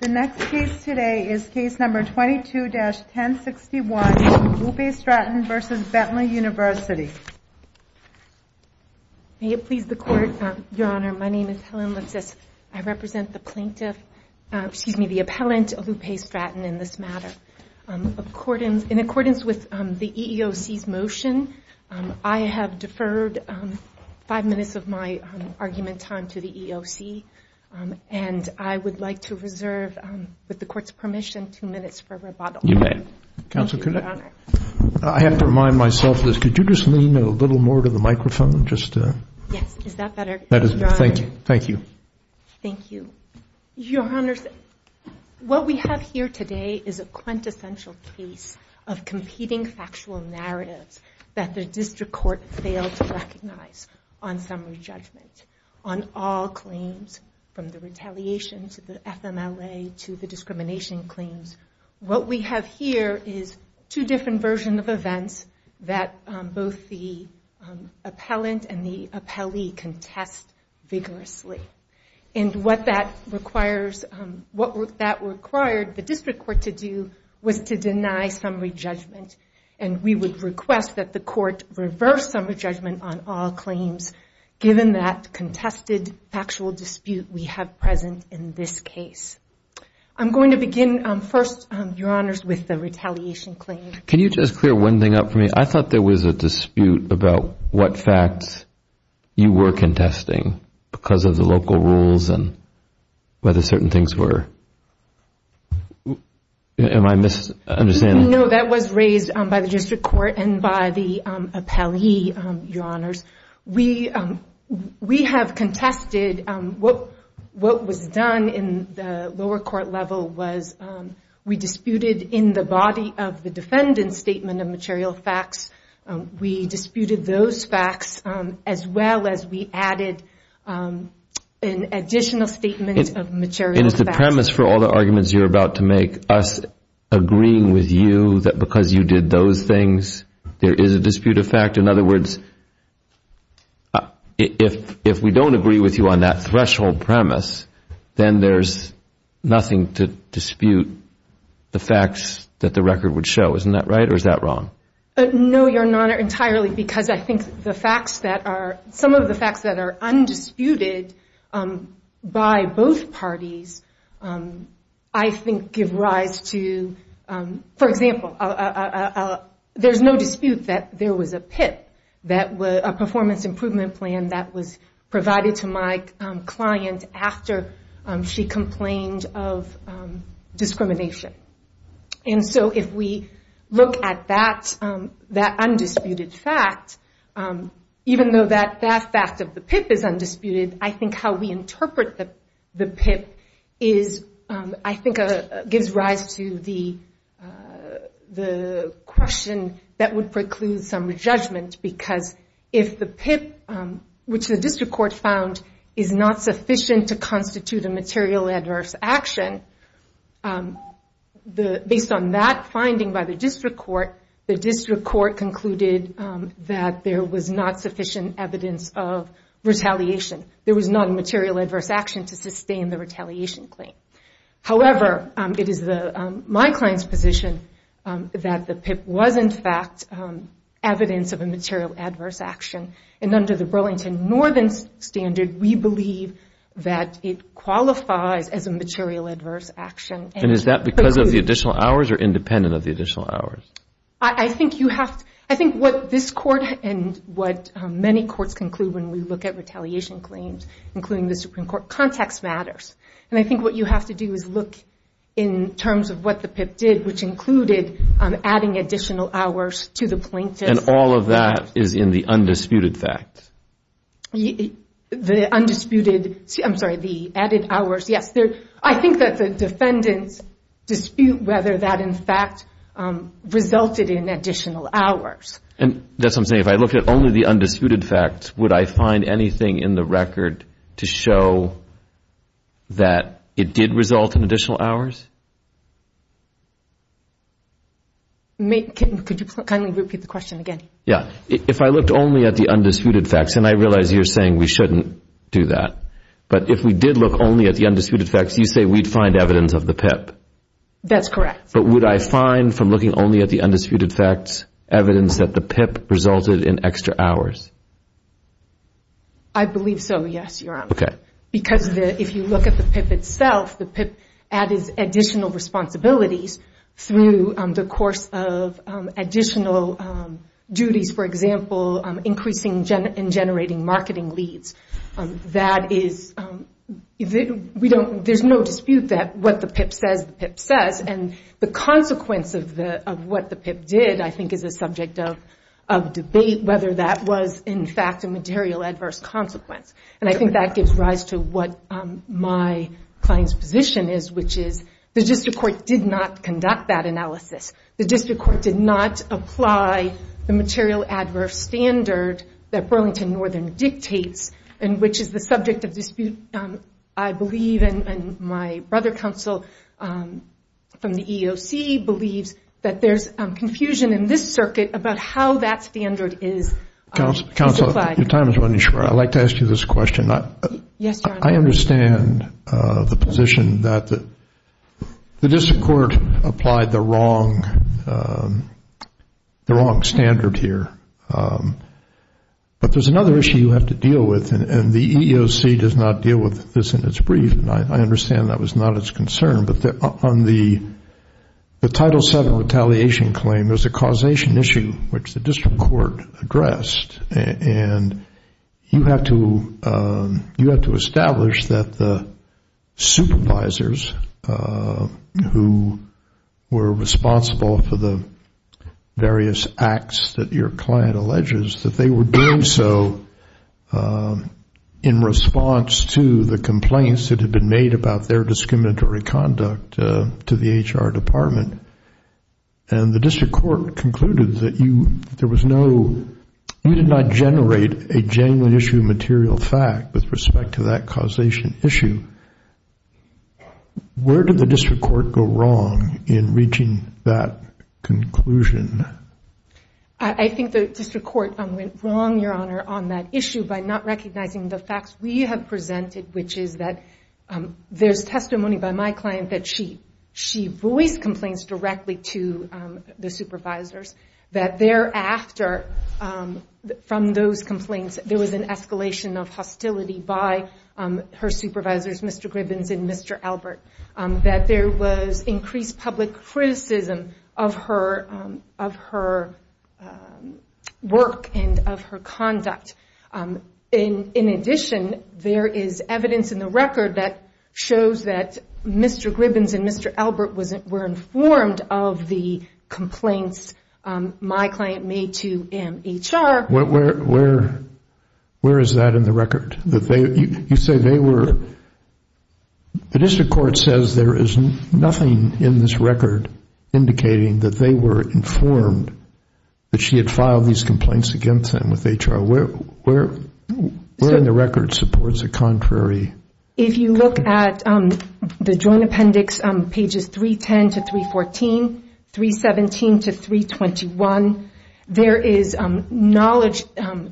The next case today is Case No. 22-1061, Lupe Stratton v. Bentley University May it please the Court, Your Honor, my name is Helen Lipsitz. I represent the plaintiff, excuse me, the appellant, Lupe Stratton, in this matter. In accordance with the EEOC's motion, I have deferred five minutes of my argument time to the EEOC and I would like to reserve, with the Court's permission, two minutes for rebuttal. You may. Thank you, Your Honor. I have to remind myself of this. Could you just lean a little more to the microphone? Yes, is that better, Your Honor? Thank you. Thank you. Your Honors, what we have here today is a quintessential case of competing factual narratives that the District Court failed to recognize on summary judgment on all claims, from the retaliation to the FMLA to the discrimination claims. What we have here is two different versions of events that both the appellant and the appellee contest vigorously. And what that required the District Court to do was to deny summary judgment. And we would request that the Court reverse summary judgment on all claims, given that contested factual dispute we have present in this case. I'm going to begin first, Your Honors, with the retaliation claim. Can you just clear one thing up for me? I thought there was a dispute about what facts you were contesting, because of the local rules and whether certain things were... Am I misunderstanding? No, that was raised by the District Court and by the appellee, Your Honors. We have contested what was done in the lower court level was we disputed, in the body of the defendant's statement of material facts, we disputed those facts as well as we added an additional statement of material facts. And is the premise for all the arguments you're about to make us agreeing with you that because you did those things, there is a dispute of fact? In other words, if we don't agree with you on that threshold premise, then there's nothing to dispute the facts that the record would show. Isn't that right or is that wrong? No, Your Honor, entirely, because I think the facts that are... Some of the facts that are undisputed by both parties, I think give rise to... For example, there's no dispute that there was a PIP, a performance improvement plan, that was provided to my client after she complained of discrimination. And so if we look at that undisputed fact, even though that fact of the PIP is undisputed, I think how we interpret the PIP gives rise to the question that would preclude some judgment because if the PIP, which the District Court found is not sufficient to constitute a material adverse action, based on that finding by the District Court, the District Court concluded that there was not sufficient evidence of retaliation. There was not a material adverse action to sustain the retaliation claim. However, it is my client's position that the PIP was in fact evidence of a material adverse action. And under the Burlington Northern Standard, we believe that it qualifies as a material adverse action. And is that because of the additional hours or independent of the additional hours? I think what this Court and what many courts conclude when we look at retaliation claims, including the Supreme Court, context matters. And I think what you have to do is look in terms of what the PIP did, which included adding additional hours to the plaintiff's... And all of that is in the undisputed facts? The undisputed... I'm sorry, the added hours, yes. I think that the defendants dispute whether that in fact resulted in additional hours. And that's what I'm saying. If I look at only the undisputed facts, would I find anything in the record to show that it did result in additional hours? Could you kindly repeat the question again? Yeah. If I looked only at the undisputed facts, and I realize you're saying we shouldn't do that, but if we did look only at the undisputed facts, you say we'd find evidence of the PIP. That's correct. But would I find, from looking only at the undisputed facts, evidence that the PIP resulted in extra hours? I believe so, yes, Your Honor. Okay. Because if you look at the PIP itself, the PIP added additional responsibilities through the course of additional duties, for example, increasing and generating marketing leads. There's no dispute that what the PIP says, the PIP says. And the consequence of what the PIP did, I think, is a subject of debate, whether that was in fact a material adverse consequence. And I think that gives rise to what my client's position is, which is the district court did not conduct that analysis. The district court did not apply the material adverse standard that Burlington Northern dictates and which is the subject of dispute, I believe, and my brother counsel from the EEOC believes that there's confusion in this circuit about how that standard is applied. Counsel, your time is running short. I'd like to ask you this question. Yes, Your Honor. I understand the position that the district court applied the wrong standard here. But there's another issue you have to deal with, and the EEOC does not deal with this in its brief, and I understand that was not its concern. But on the Title VII retaliation claim, there's a causation issue which the district court addressed, and you have to establish that the supervisors who were responsible for the various acts that your client alleges that they were doing so in response to the complaints that had been made about their discriminatory conduct to the HR department, and the district court concluded that you did not generate a genuine issue of material fact with respect to that causation issue. Where did the district court go wrong in reaching that conclusion? I think the district court went wrong, Your Honor, on that issue by not recognizing the facts we have presented, which is that there's testimony by my client that she voiced complaints directly to the supervisors, that thereafter from those complaints there was an escalation of hostility by her supervisors, Mr. Gribbins and Mr. Albert, that there was increased public criticism of her work and of her conduct. In addition, there is evidence in the record that shows that Mr. Gribbins and Mr. Albert were informed of the complaints my client made to him, HR. Where is that in the record? You say they were, the district court says there is nothing in this record indicating that they were informed that she had filed these complaints against them with HR. Where in the record supports a contrary? If you look at the joint appendix, pages 310 to 314, 317 to 321, there is knowledge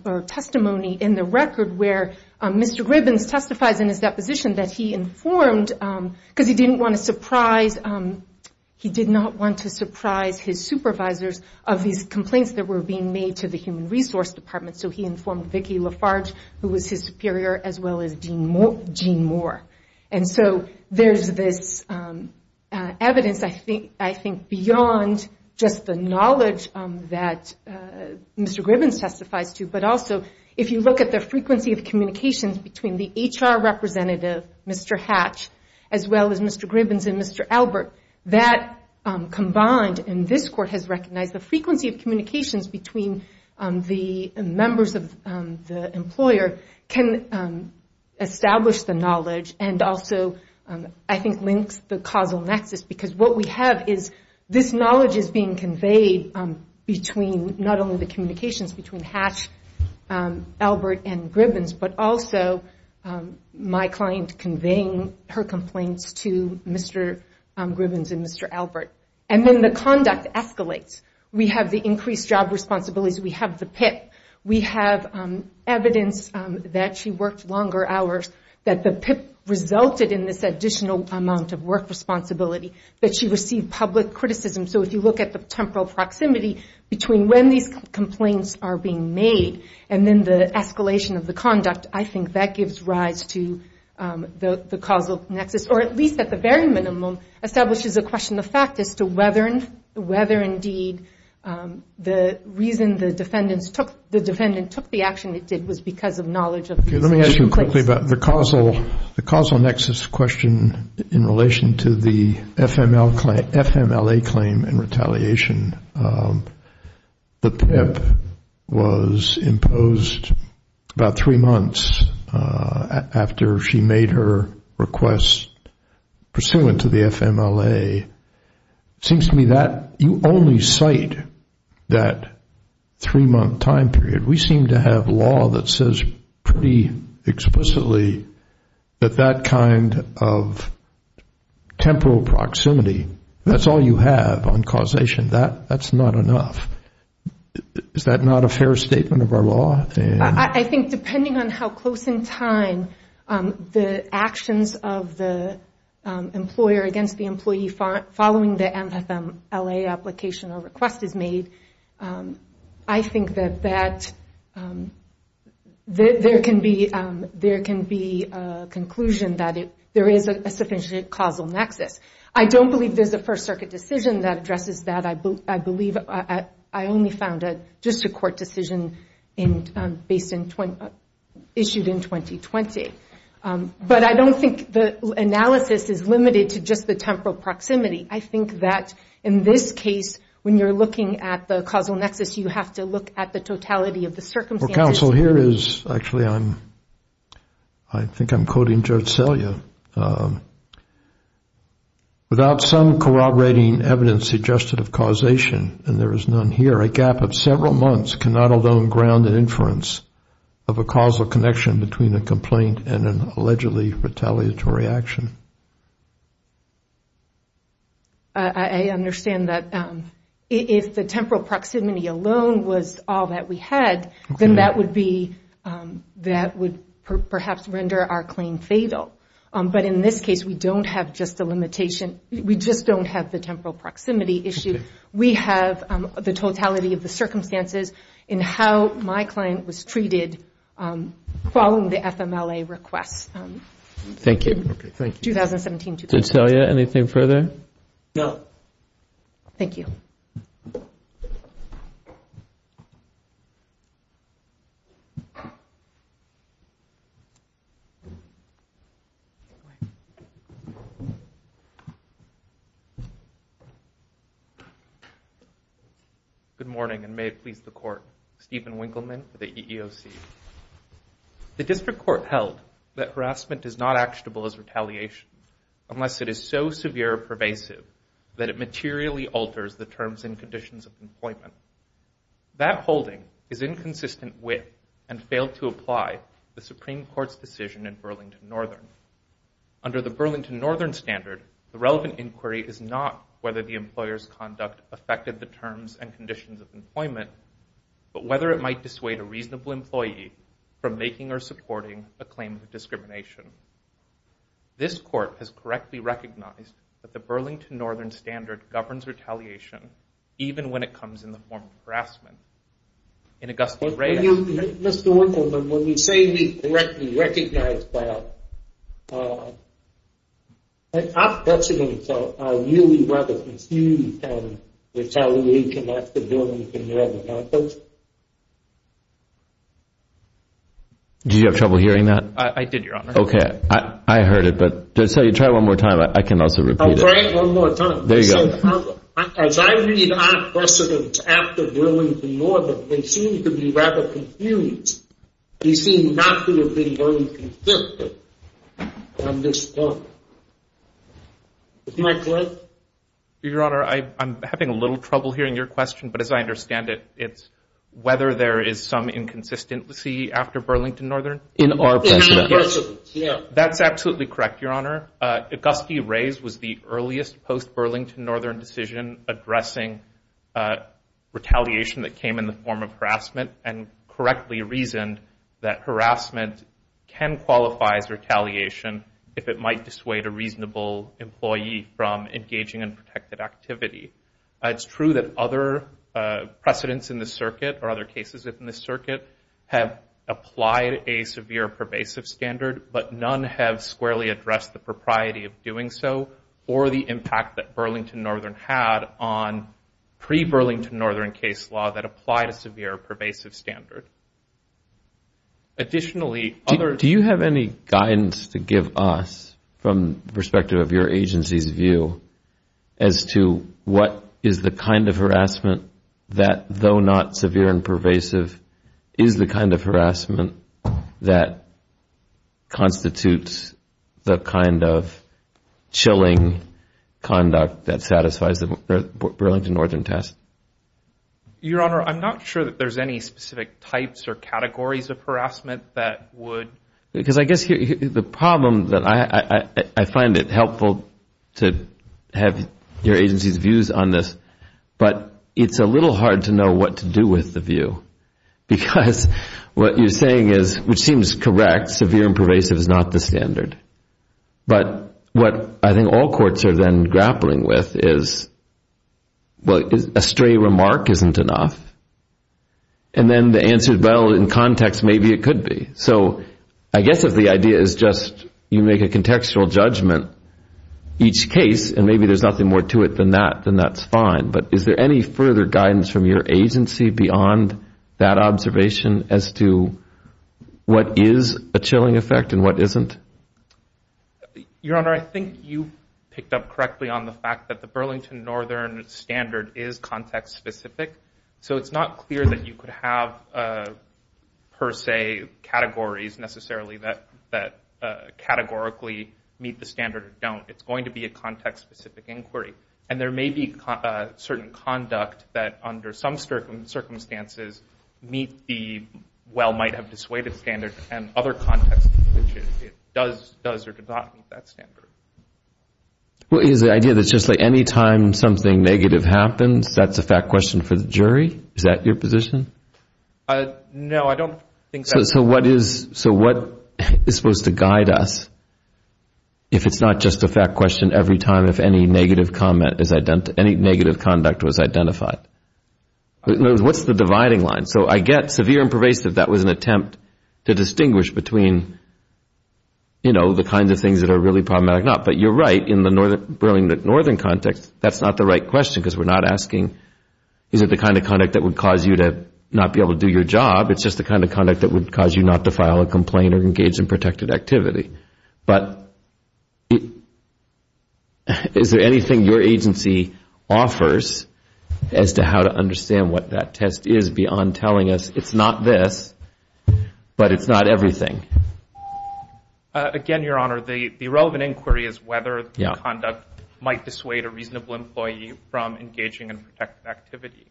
or testimony in the record where Mr. Gribbins testifies in his deposition that he informed, because he didn't want to surprise, he did not want to surprise his supervisors of these complaints that were being made to the Human Resource Department, so he informed Vicki Lafarge, who was his superior, as well as Gene Moore. There is this evidence, I think, beyond just the knowledge that Mr. Gribbins testifies to, but also if you look at the frequency of communications between the HR representative, Mr. Hatch, as well as Mr. Gribbins and Mr. Albert, that combined in this court has recognized the frequency of communications between the members of the employer can establish the knowledge and also I think links the causal nexus, because what we have is this knowledge is being conveyed between not only the communications between Hatch, Albert, and Gribbins, but also my client conveying her complaints to Mr. Gribbins and Mr. Albert. And then the conduct escalates. We have the increased job responsibilities. We have the PIP. We have evidence that she worked longer hours, that the PIP resulted in this additional amount of work responsibility, that she received public criticism. So if you look at the temporal proximity between when these complaints are being made and then the escalation of the conduct, I think that gives rise to the causal nexus, or at least at the very minimum establishes a question of fact as to whether, indeed, the reason the defendant took the action it did was because of knowledge of these complaints. Let me ask you quickly about the causal nexus question in relation to the FMLA claim and retaliation. The PIP was imposed about three months after she made her request pursuant to the FMLA. It seems to me that you only cite that three-month time period. We seem to have law that says pretty explicitly that that kind of temporal proximity, that's all you have on causation. That's not enough. Is that not a fair statement of our law? I think depending on how close in time the actions of the employer against the employee following the FMLA application or request is made, I think that there can be a conclusion that there is a sufficient causal nexus. I don't believe there's a First Circuit decision that addresses that. I believe I only found just a court decision issued in 2020. But I don't think the analysis is limited to just the temporal proximity. I think that in this case, when you're looking at the causal nexus, you have to look at the totality of the circumstances. Counsel, here is actually, I think I'm quoting Judge Selya. Without some corroborating evidence suggested of causation, and there is none here, a gap of several months cannot alone ground an inference of a causal connection between a complaint and an allegedly retaliatory action. I understand that if the temporal proximity alone was all that we had, then that would perhaps render our claim fatal. But in this case, we don't have just a limitation. We just don't have the temporal proximity issue. We have the totality of the circumstances in how my client was treated following the FMLA request. Thank you. 2017-2020. Judge Selya, anything further? No. Thank you. Good morning, and may it please the Court. Stephen Winkleman for the EEOC. The District Court held that harassment is not actionable as retaliation unless it is so severe or pervasive that it materially alters the terms and conditions of employment. That holding is inconsistent with and failed to apply the Supreme Court's decision in Burlington Northern. Under the Burlington Northern standard, the relevant inquiry is not whether the employer's conduct affected the terms and conditions of employment, but whether it might dissuade a reasonable employee from making or supporting a claim of discrimination. This Court has correctly recognized that the Burlington Northern standard governs retaliation even when it comes in the form of harassment. In Augusta- Mr. Winkleman, when you say we correctly recognize that, I'm questioning whether you can retaliate against the Burlington Northern, can't you? Did you have trouble hearing that? I did, Your Honor. Okay, I heard it, but try it one more time. I can also repeat it. I'll try it one more time. There you go. As I read our precedents after Burlington Northern, they seem to be rather confused. They seem not to have been very consistent on this point. Is that correct? Your Honor, I'm having a little trouble hearing your question, but as I understand it, it's whether there is some inconsistency after Burlington Northern. In our precedents, yes. That's absolutely correct, Your Honor. Auguste Reyes was the earliest post-Burlington Northern decision addressing retaliation that came in the form of harassment and correctly reasoned that harassment can qualify as retaliation if it might dissuade a reasonable employee from engaging in protected activity. It's true that other precedents in this circuit or other cases in this circuit have applied a severe pervasive standard, but none have squarely addressed the propriety of doing so or the impact that Burlington Northern had on pre-Burlington Northern case law that applied a severe pervasive standard. Additionally, other… Do you have any guidance to give us from the perspective of your agency's view as to what is the kind of harassment that, though not severe and pervasive, is the kind of harassment that constitutes the kind of chilling conduct that satisfies the Burlington Northern test? Your Honor, I'm not sure that there's any specific types or categories of harassment that would… Because I guess the problem that… I find it helpful to have your agency's views on this, but it's a little hard to know what to do with the view because what you're saying is, which seems correct, severe and pervasive is not the standard. But what I think all courts are then grappling with is, well, a stray remark isn't enough, and then the answer, well, in context, maybe it could be. So I guess if the idea is just you make a contextual judgment each case and maybe there's nothing more to it than that, then that's fine. But is there any further guidance from your agency beyond that observation as to what is a chilling effect and what isn't? Your Honor, I think you picked up correctly on the fact that the Burlington Northern standard is context-specific, so it's not clear that you could have, per se, categories necessarily that categorically meet the standard or don't. It's going to be a context-specific inquiry. And there may be certain conduct that, under some circumstances, meet the well-might-have-dissuaded standard, and other contexts in which it does or does not meet that standard. Well, is the idea that just like any time something negative happens, that's a fact question for the jury? Is that your position? No, I don't think so. So what is supposed to guide us if it's not just a fact question every time if any negative conduct was identified? What's the dividing line? So I get severe and pervasive, that was an attempt to distinguish between, you know, the kinds of things that are really problematic or not. But you're right, in the Burlington Northern context, that's not the right question because we're not asking, is it the kind of conduct that would cause you to not be able to do your job? It's just the kind of conduct that would cause you not to file a complaint or engage in protected activity. But is there anything your agency offers as to how to understand what that test is beyond telling us it's not this but it's not everything? Again, Your Honor, the relevant inquiry is whether the conduct might dissuade a reasonable employee from engaging in protected activity.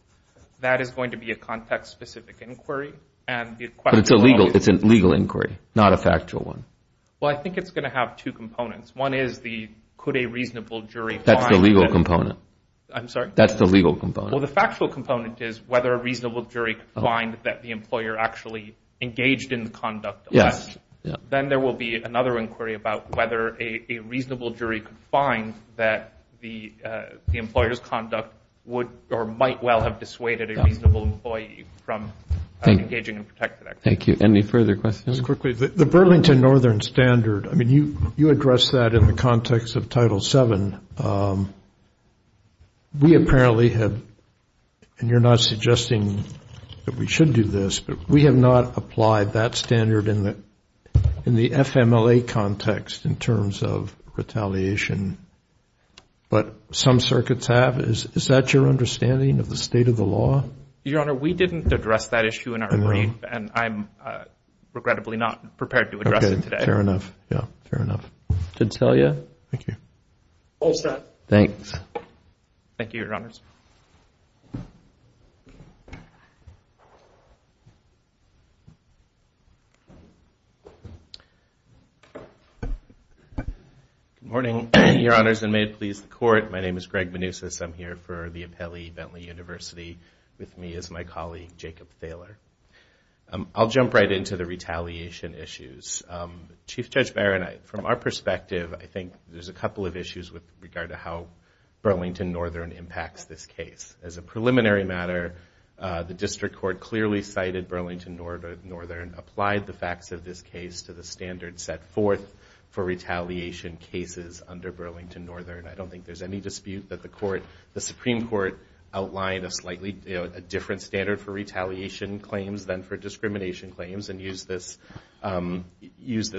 That is going to be a context-specific inquiry. But it's a legal inquiry, not a factual one. Well, I think it's going to have two components. One is, could a reasonable jury find that? That's the legal component. I'm sorry? That's the legal component. Well, the factual component is whether a reasonable jury could find that the employer actually engaged in the conduct of that. Yes. Then there will be another inquiry about whether a reasonable jury could find that the employer's conduct would or might well have dissuaded a reasonable employee from engaging in protected activity. Thank you. Any further questions? Just quickly, the Burlington Northern Standard, I mean you addressed that in the context of Title VII. We apparently have, and you're not suggesting that we should do this, but we have not applied that standard in the FMLA context in terms of retaliation. But some circuits have. Is that your understanding of the state of the law? Your Honor, we didn't address that issue in our brief, and I'm regrettably not prepared to address it today. Okay. Fair enough. Yeah. Fair enough. Did it tell you? Thank you. All set. Thanks. Thank you, Your Honors. Good morning, Your Honors, and may it please the Court. My name is Greg Manousis. I'm here for the Appellee Bentley University. With me is my colleague, Jacob Thaler. I'll jump right into the retaliation issues. Chief Judge Barron, from our perspective, I think there's a couple of issues with regard to how Burlington Northern impacts this case. As a preliminary matter, the District Court clearly cited Burlington Northern and applied the facts of this case to the standard set forth for retaliation cases under Burlington Northern. I don't think there's any dispute that the Supreme Court outlined a slightly different standard for retaliation claims than for discrimination claims and used this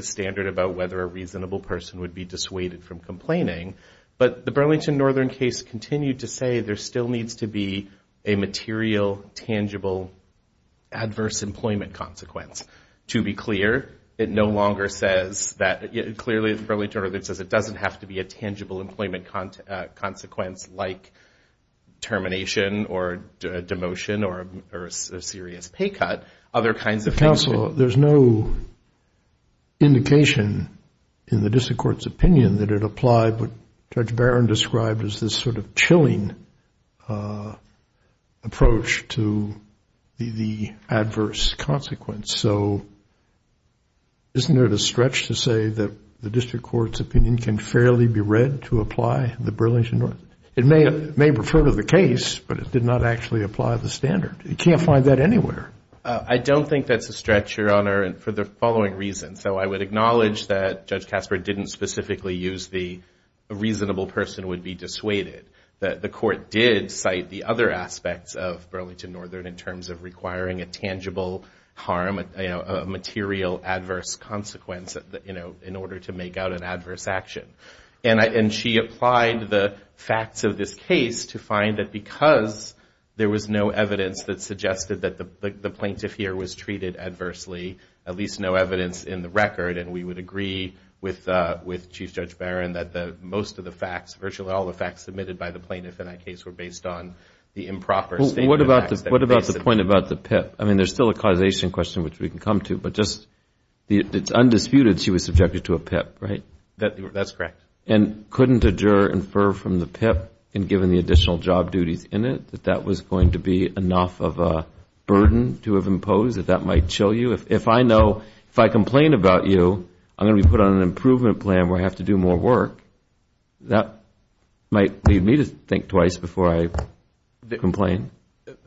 standard about whether a reasonable person would be dissuaded from complaining. But the Burlington Northern case continued to say there still needs to be a material, tangible, adverse employment consequence. To be clear, it no longer says that. Clearly, Burlington Northern says it doesn't have to be a tangible employment consequence like termination or demotion or a serious pay cut, other kinds of things. Counsel, there's no indication in the District Court's opinion that it applied what Judge Barron described as this sort of chilling approach to the adverse consequence. So isn't it a stretch to say that the District Court's opinion can fairly be read to apply the Burlington Northern? It may refer to the case, but it did not actually apply the standard. You can't find that anywhere. I don't think that's a stretch, Your Honor, for the following reasons. So I would acknowledge that Judge Casper didn't specifically use the reasonable person would be dissuaded. The Court did cite the other aspects of Burlington Northern in terms of requiring a tangible harm, a material adverse consequence in order to make out an adverse action. And she applied the facts of this case to find that because there was no evidence that suggested that the plaintiff here was treated adversely, at least no evidence in the record, and we would agree with Chief Judge Barron that most of the facts, virtually all the facts submitted by the plaintiff in that case were based on the improper statement of facts. Well, what about the point about the PIP? I mean, there's still a causation question which we can come to, but just it's undisputed she was subjected to a PIP, right? That's correct. And couldn't a juror infer from the PIP, and given the additional job duties in it, that that was going to be enough of a burden to have imposed, that that might chill you? If I know, if I complain about you, I'm going to be put on an improvement plan where I have to do more work, that might lead me to think twice before I complain.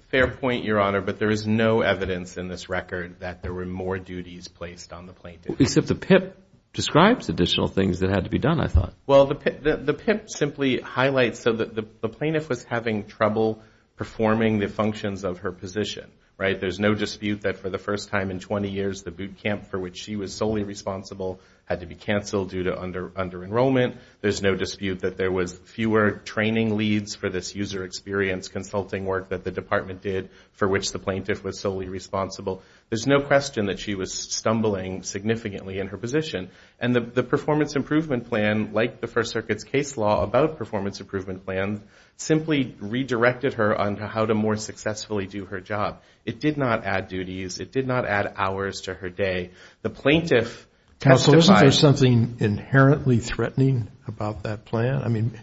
Fair point, Your Honor, but there is no evidence in this record that there were more duties placed on the plaintiff. Except the PIP describes additional things that had to be done, I thought. Well, the PIP simply highlights that the plaintiff was having trouble performing the functions of her position, right? There's no dispute that for the first time in 20 years, the boot camp for which she was solely responsible had to be canceled due to under-enrollment. There's no dispute that there was fewer training leads for this user experience consulting work that the department did, for which the plaintiff was solely responsible. There's no question that she was stumbling significantly in her position. And the performance improvement plan, like the First Circuit's case law about performance improvement plans, simply redirected her on how to more successfully do her job. It did not add duties. It did not add hours to her day. The plaintiff testified. So isn't there something inherently threatening about that plan? I mean,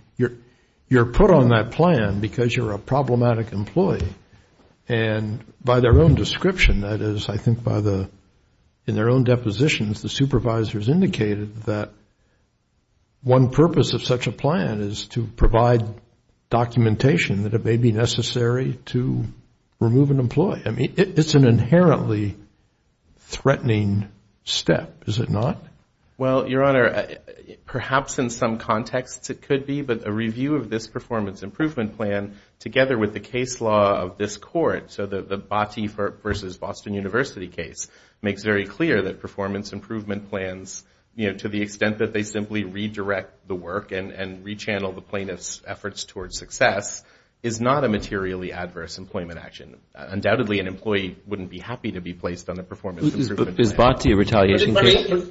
you're put on that plan because you're a problematic employee, and by their own description, that is, I think in their own depositions, the supervisors indicated that one purpose of such a plan is to provide documentation that it may be necessary to remove an employee. I mean, it's an inherently threatening step, is it not? Well, Your Honor, perhaps in some contexts it could be, but a review of this performance improvement plan together with the case law of this court, so the Botti v. Boston University case makes very clear that performance improvement plans, you know, to the extent that they simply redirect the work and rechannel the plaintiff's efforts towards success, is not a materially adverse employment action. Undoubtedly, an employee wouldn't be happy to be placed on a performance improvement plan. Is Botti a retaliation case?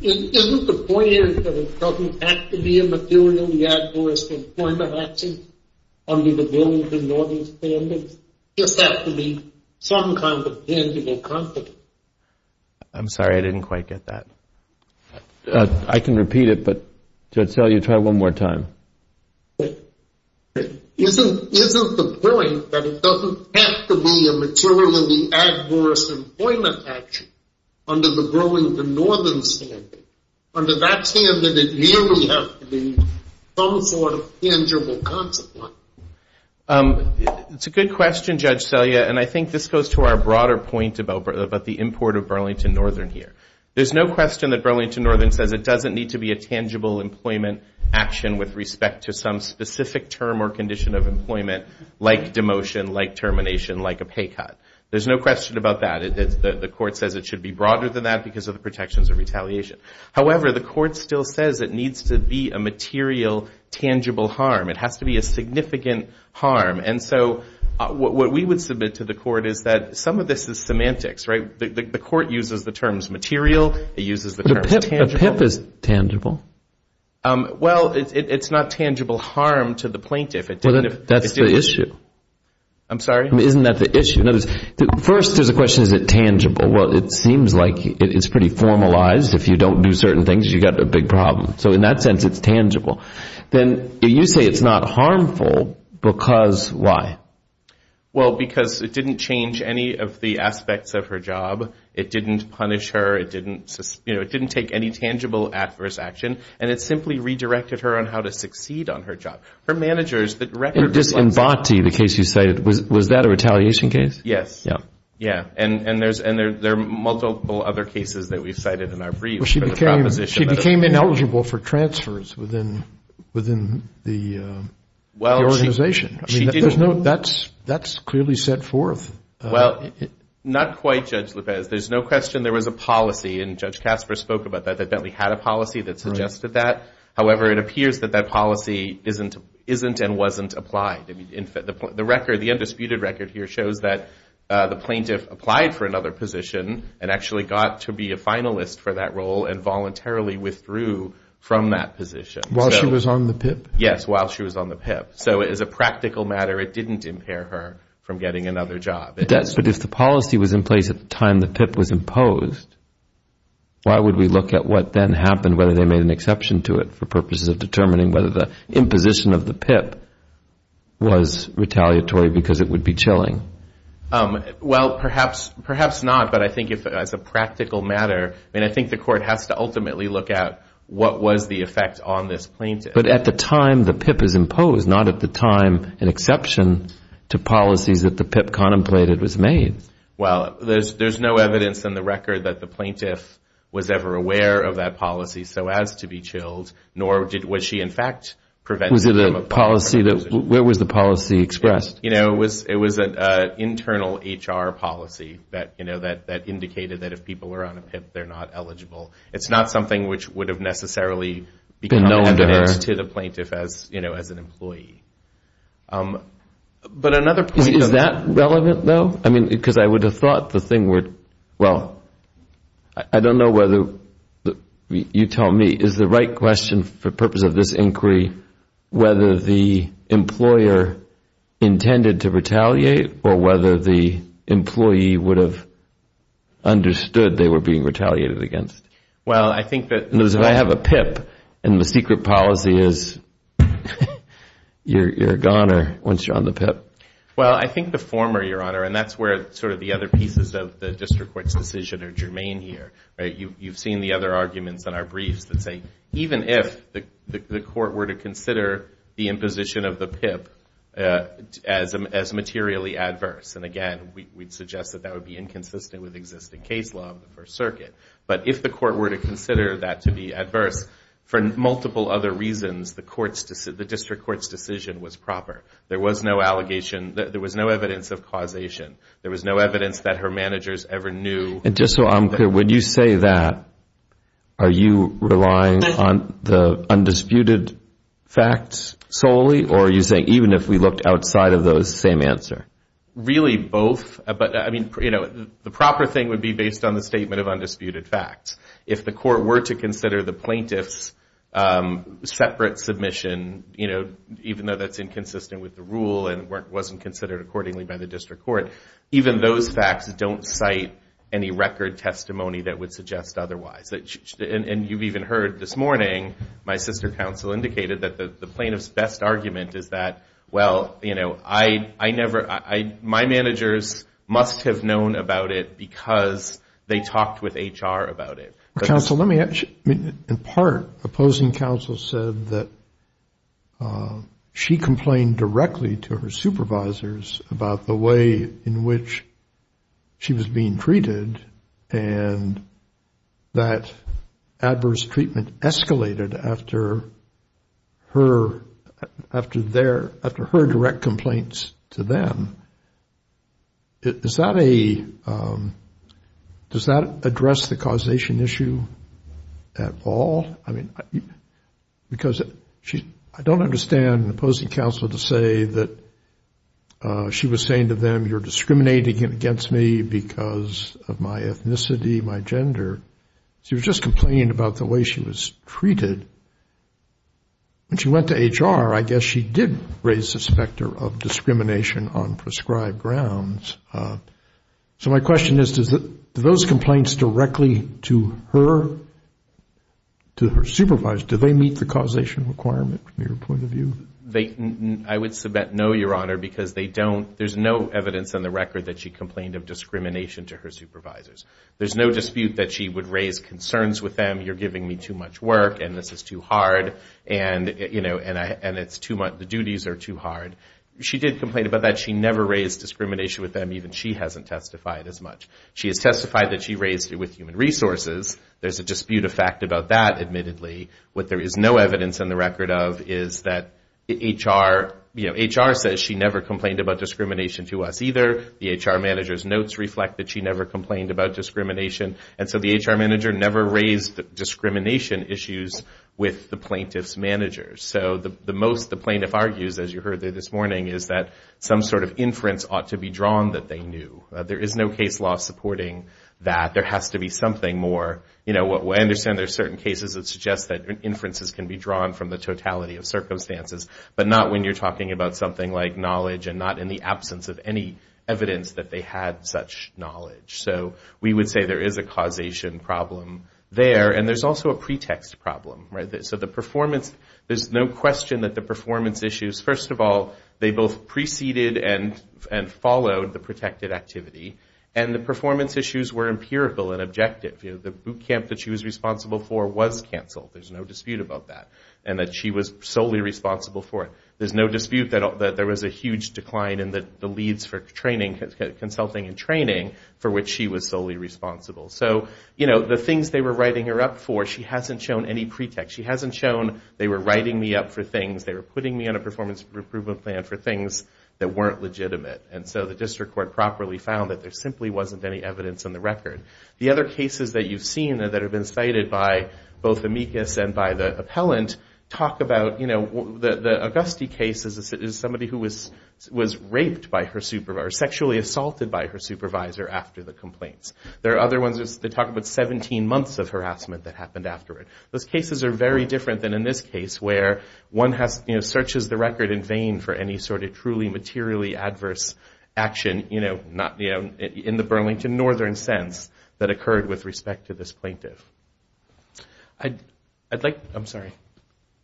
Isn't the point that it doesn't have to be a materially adverse employment action under the Bill of the Northern Standards? It just has to be some kind of tangible consequence. I'm sorry, I didn't quite get that. I can repeat it, but Judge Selle, you try one more time. Isn't the point that it doesn't have to be a materially adverse employment action under the Burlington Northern Standards? Under that standard, it really has to be some sort of tangible consequence. It's a good question, Judge Selle, and I think this goes to our broader point about the import of Burlington Northern here. There's no question that Burlington Northern says it doesn't need to be a tangible employment action with respect to some specific term or condition of employment, like demotion, like termination, like a pay cut. There's no question about that. The court says it should be broader than that because of the protections of retaliation. However, the court still says it needs to be a material, tangible harm. It has to be a significant harm. And so what we would submit to the court is that some of this is semantics, right? The court uses the terms material. It uses the terms tangible. But a PIP is tangible. Well, it's not tangible harm to the plaintiff. That's the issue. I'm sorry? Isn't that the issue? First, there's a question, is it tangible? Well, it seems like it's pretty formalized. If you don't do certain things, you've got a big problem. So in that sense, it's tangible. Then you say it's not harmful because why? Well, because it didn't change any of the aspects of her job. It didn't punish her. It didn't take any tangible adverse action. And it simply redirected her on how to succeed on her job. For managers, the record was like that. In Botti, the case you cited, was that a retaliation case? Yes. Yeah. And there are multiple other cases that we've cited in our brief. She became ineligible for transfers within the organization. That's clearly set forth. Well, not quite, Judge Lopez. There's no question there was a policy, and Judge Casper spoke about that, that Bentley had a policy that suggested that. However, it appears that that policy isn't and wasn't applied. The undisputed record here shows that the plaintiff applied for another position and actually got to be a finalist for that role and voluntarily withdrew from that position. While she was on the PIP? Yes, while she was on the PIP. So as a practical matter, it didn't impair her from getting another job. It does. But if the policy was in place at the time the PIP was imposed, why would we look at what then happened, whether they made an exception to it, for purposes of determining whether the imposition of the PIP was retaliatory because it would be chilling? Well, perhaps not. But I think as a practical matter, I think the court has to ultimately look at what was the effect on this plaintiff. But at the time the PIP is imposed, not at the time an exception to policies that the PIP contemplated was made. Well, there's no evidence in the record that the plaintiff was ever aware of that policy, so as to be chilled, nor was she in fact prevented from a position. Where was the policy expressed? It was an internal HR policy that indicated that if people were on a PIP, they're not eligible. It's not something which would have necessarily become evidence to the plaintiff as an employee. Is that relevant, though? I mean, because I would have thought the thing would – well, I don't know whether – you tell me, is the right question for purpose of this inquiry whether the employer intended to retaliate or whether the employee would have understood they were being retaliated against? Well, I think that – Because if I have a PIP and the secret policy is you're gone once you're on the PIP. Well, I think the former, Your Honor, and that's where sort of the other pieces of the district court's decision are germane here. You've seen the other arguments in our briefs that say even if the court were to consider the imposition of the PIP as materially adverse, and again we'd suggest that that would be inconsistent with existing case law of the First Circuit, but if the court were to consider that to be adverse for multiple other reasons, the district court's decision was proper. There was no evidence of causation. There was no evidence that her managers ever knew. And just so I'm clear, when you say that, are you relying on the undisputed facts solely or are you saying even if we looked outside of those, same answer? Really both, but I mean, you know, the proper thing would be based on the statement of undisputed facts. If the court were to consider the plaintiff's separate submission, you know, even though that's inconsistent with the rule and wasn't considered accordingly by the district court, even those facts don't cite any record testimony that would suggest otherwise. And you've even heard this morning, my sister counsel indicated that the plaintiff's best argument is that, well, you know, I never, my managers must have known about it because they talked with HR about it. Counsel, let me ask you. In part, opposing counsel said that she complained directly to her supervisors about the way in which she was being treated and that adverse treatment escalated after her direct complaints to them. Is that a, does that address the causation issue at all? I mean, because she, I don't understand opposing counsel to say that she was saying to them, you're discriminating against me because of my ethnicity, my gender. She was just complaining about the way she was treated. When she went to HR, I guess she did raise the specter of discrimination on prescribed grounds. So my question is, do those complaints directly to her, to her supervisors, do they meet the causation requirement from your point of view? I would submit no, Your Honor, because they don't, there's no evidence on the record that she complained of discrimination to her supervisors. There's no dispute that she would raise concerns with them, you're giving me too much work and this is too hard and, you know, and it's too much, the duties are too hard. She did complain about that. She never raised discrimination with them, even she hasn't testified as much. She has testified that she raised it with human resources. There's a dispute of fact about that, admittedly. What there is no evidence on the record of is that HR, you know, HR says she never complained about discrimination to us either. The HR manager's notes reflect that she never complained about discrimination. And so the HR manager never raised discrimination issues with the plaintiff's manager. So the most the plaintiff argues, as you heard this morning, is that some sort of inference ought to be drawn that they knew. There is no case law supporting that. There has to be something more, you know, I understand there are certain cases that suggest that inferences can be drawn from the totality of circumstances, but not when you're talking about something like knowledge and not in the absence of any evidence that they had such knowledge. So we would say there is a causation problem there and there's also a pretext problem. So the performance, there's no question that the performance issues, first of all, they both preceded and followed the protected activity. And the performance issues were empirical and objective. The boot camp that she was responsible for was canceled. There's no dispute about that. And that she was solely responsible for it. There's no dispute that there was a huge decline in the leads for training, consulting and training for which she was solely responsible. So, you know, the things they were writing her up for, she hasn't shown any pretext. She hasn't shown they were writing me up for things, they were putting me on a performance improvement plan for things that weren't legitimate. And so the district court properly found that there simply wasn't any evidence in the record. The other cases that you've seen that have been cited by both amicus and by the appellant talk about, you know, the Auguste case is somebody who was raped by her supervisor, sexually assaulted by her supervisor after the complaints. There are other ones that talk about 17 months of harassment that happened after it. Those cases are very different than in this case where one has, you know, searches the record in vain for any sort of truly materially adverse action, you know, in the Burlington Northern sense that occurred with respect to this plaintiff. I'd like, I'm sorry.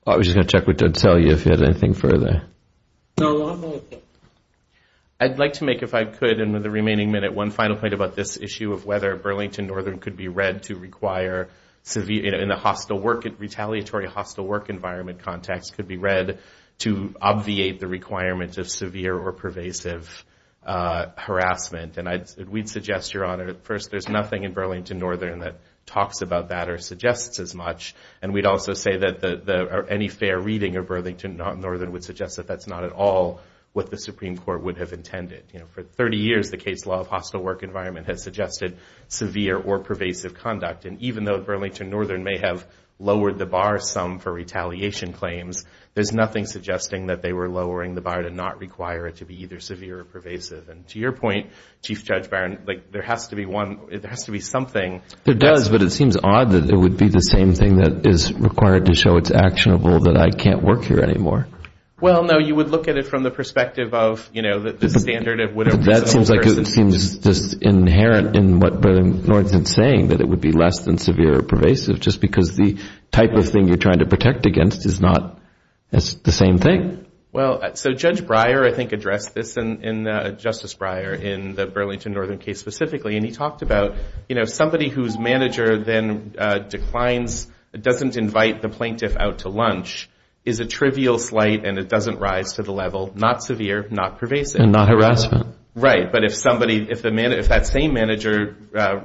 I was just going to check with you and tell you if you had anything further. I'd like to make, if I could, in the remaining minute, one final point about this issue of whether Burlington Northern could be read to require severe, in the hostile work, retaliatory hostile work environment context, could be read to obviate the requirements of severe or pervasive harassment. And we'd suggest, Your Honor, first, there's nothing in Burlington Northern that talks about that or suggests as much. And we'd also say that any fair reading of Burlington Northern would suggest that that's not at all what the Supreme Court would have intended. You know, for 30 years, the case law of hostile work environment has suggested severe or pervasive conduct. And even though Burlington Northern may have lowered the bar some for retaliation claims, there's nothing suggesting that they were lowering the bar to not require it to be either severe or pervasive. And to your point, Chief Judge Byron, like, there has to be one, there has to be something. It does, but it seems odd that it would be the same thing that is required to show it's actionable that I can't work here anymore. Well, no, you would look at it from the perspective of, you know, the standard of widow prison. But that seems like it seems just inherent in what Burlington Northern is saying, that it would be less than severe or pervasive just because the type of thing you're trying to protect against is not the same thing. Well, so Judge Breyer, I think, addressed this in Justice Breyer in the Burlington Northern case specifically. And he talked about, you know, somebody whose manager then declines, doesn't invite the plaintiff out to lunch, is a trivial slight and it doesn't rise to the level, not severe, not pervasive. And not harassment. Right. But if somebody, if that same manager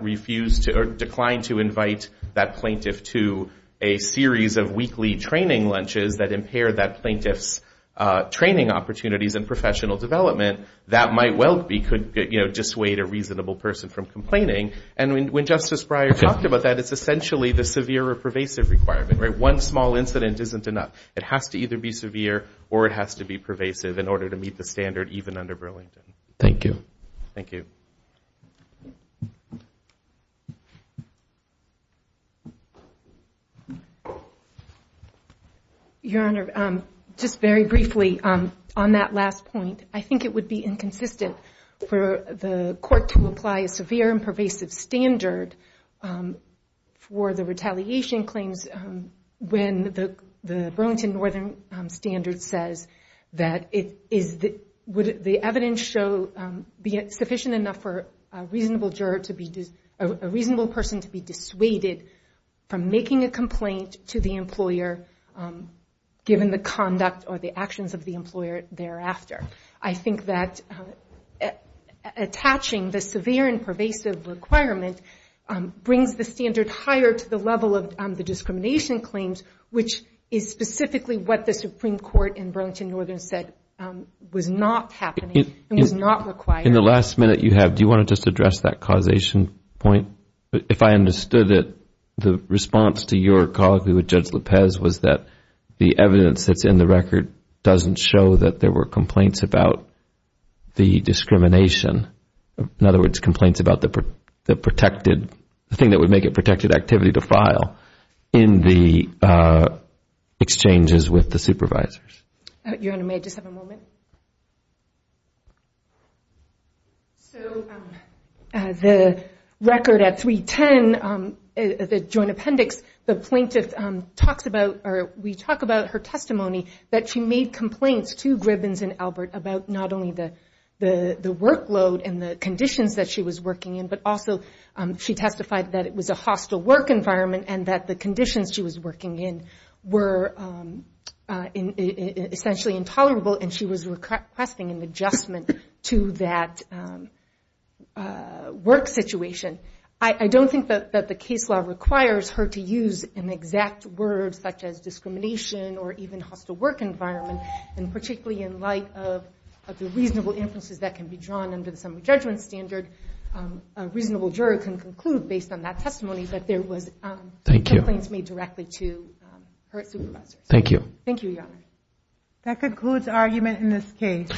refused or declined to invite that plaintiff to a series of weekly training lunches that impair that plaintiff's training opportunities and professional development, that might well be, could, you know, dissuade a reasonable person from complaining. And when Justice Breyer talked about that, it's essentially the severe or pervasive requirement, right? One small incident isn't enough. It has to either be severe or it has to be pervasive in order to meet the standard even under Burlington. Thank you. Thank you. Your Honor, just very briefly on that last point, I think it would be inconsistent for the court to apply a severe and pervasive standard for the retaliation claims when the Burlington Northern Standard says that it is, would the evidence show, be it sufficient enough for a reasonable juror to be, a reasonable person to be dissuaded from making a complaint to the employer given the conduct or the actions of the employer thereafter. I think that attaching the severe and pervasive requirement brings the standard higher to the level of the discrimination claims, which is specifically what the Supreme Court in Burlington Northern said was not happening and was not required. In the last minute you have, do you want to just address that causation point? If I understood it, the response to your call with Judge Lopez was that the evidence that's in the record doesn't show that there were complaints about the discrimination. In other words, complaints about the protected, the thing that would make it protected activity to file in the exchanges with the supervisors. Your Honor, may I just have a moment? So the record at 310, the joint appendix, the plaintiff talks about, or we talk about her testimony that she made complaints to Gribbins and Albert about not only the workload and the conditions that she was working in, but also she testified that it was a hostile work environment and that the conditions she was working in were essentially intolerable and she was requesting an adjustment to that work situation. I don't think that the case law requires her to use an exact word such as discrimination or even hostile work environment, and particularly in light of the reasonable inferences that can be drawn under the summary judgment standard, a reasonable juror can conclude based on that testimony that there was complaints made directly to her supervisor. Thank you. Thank you, Your Honor. That concludes argument in this case.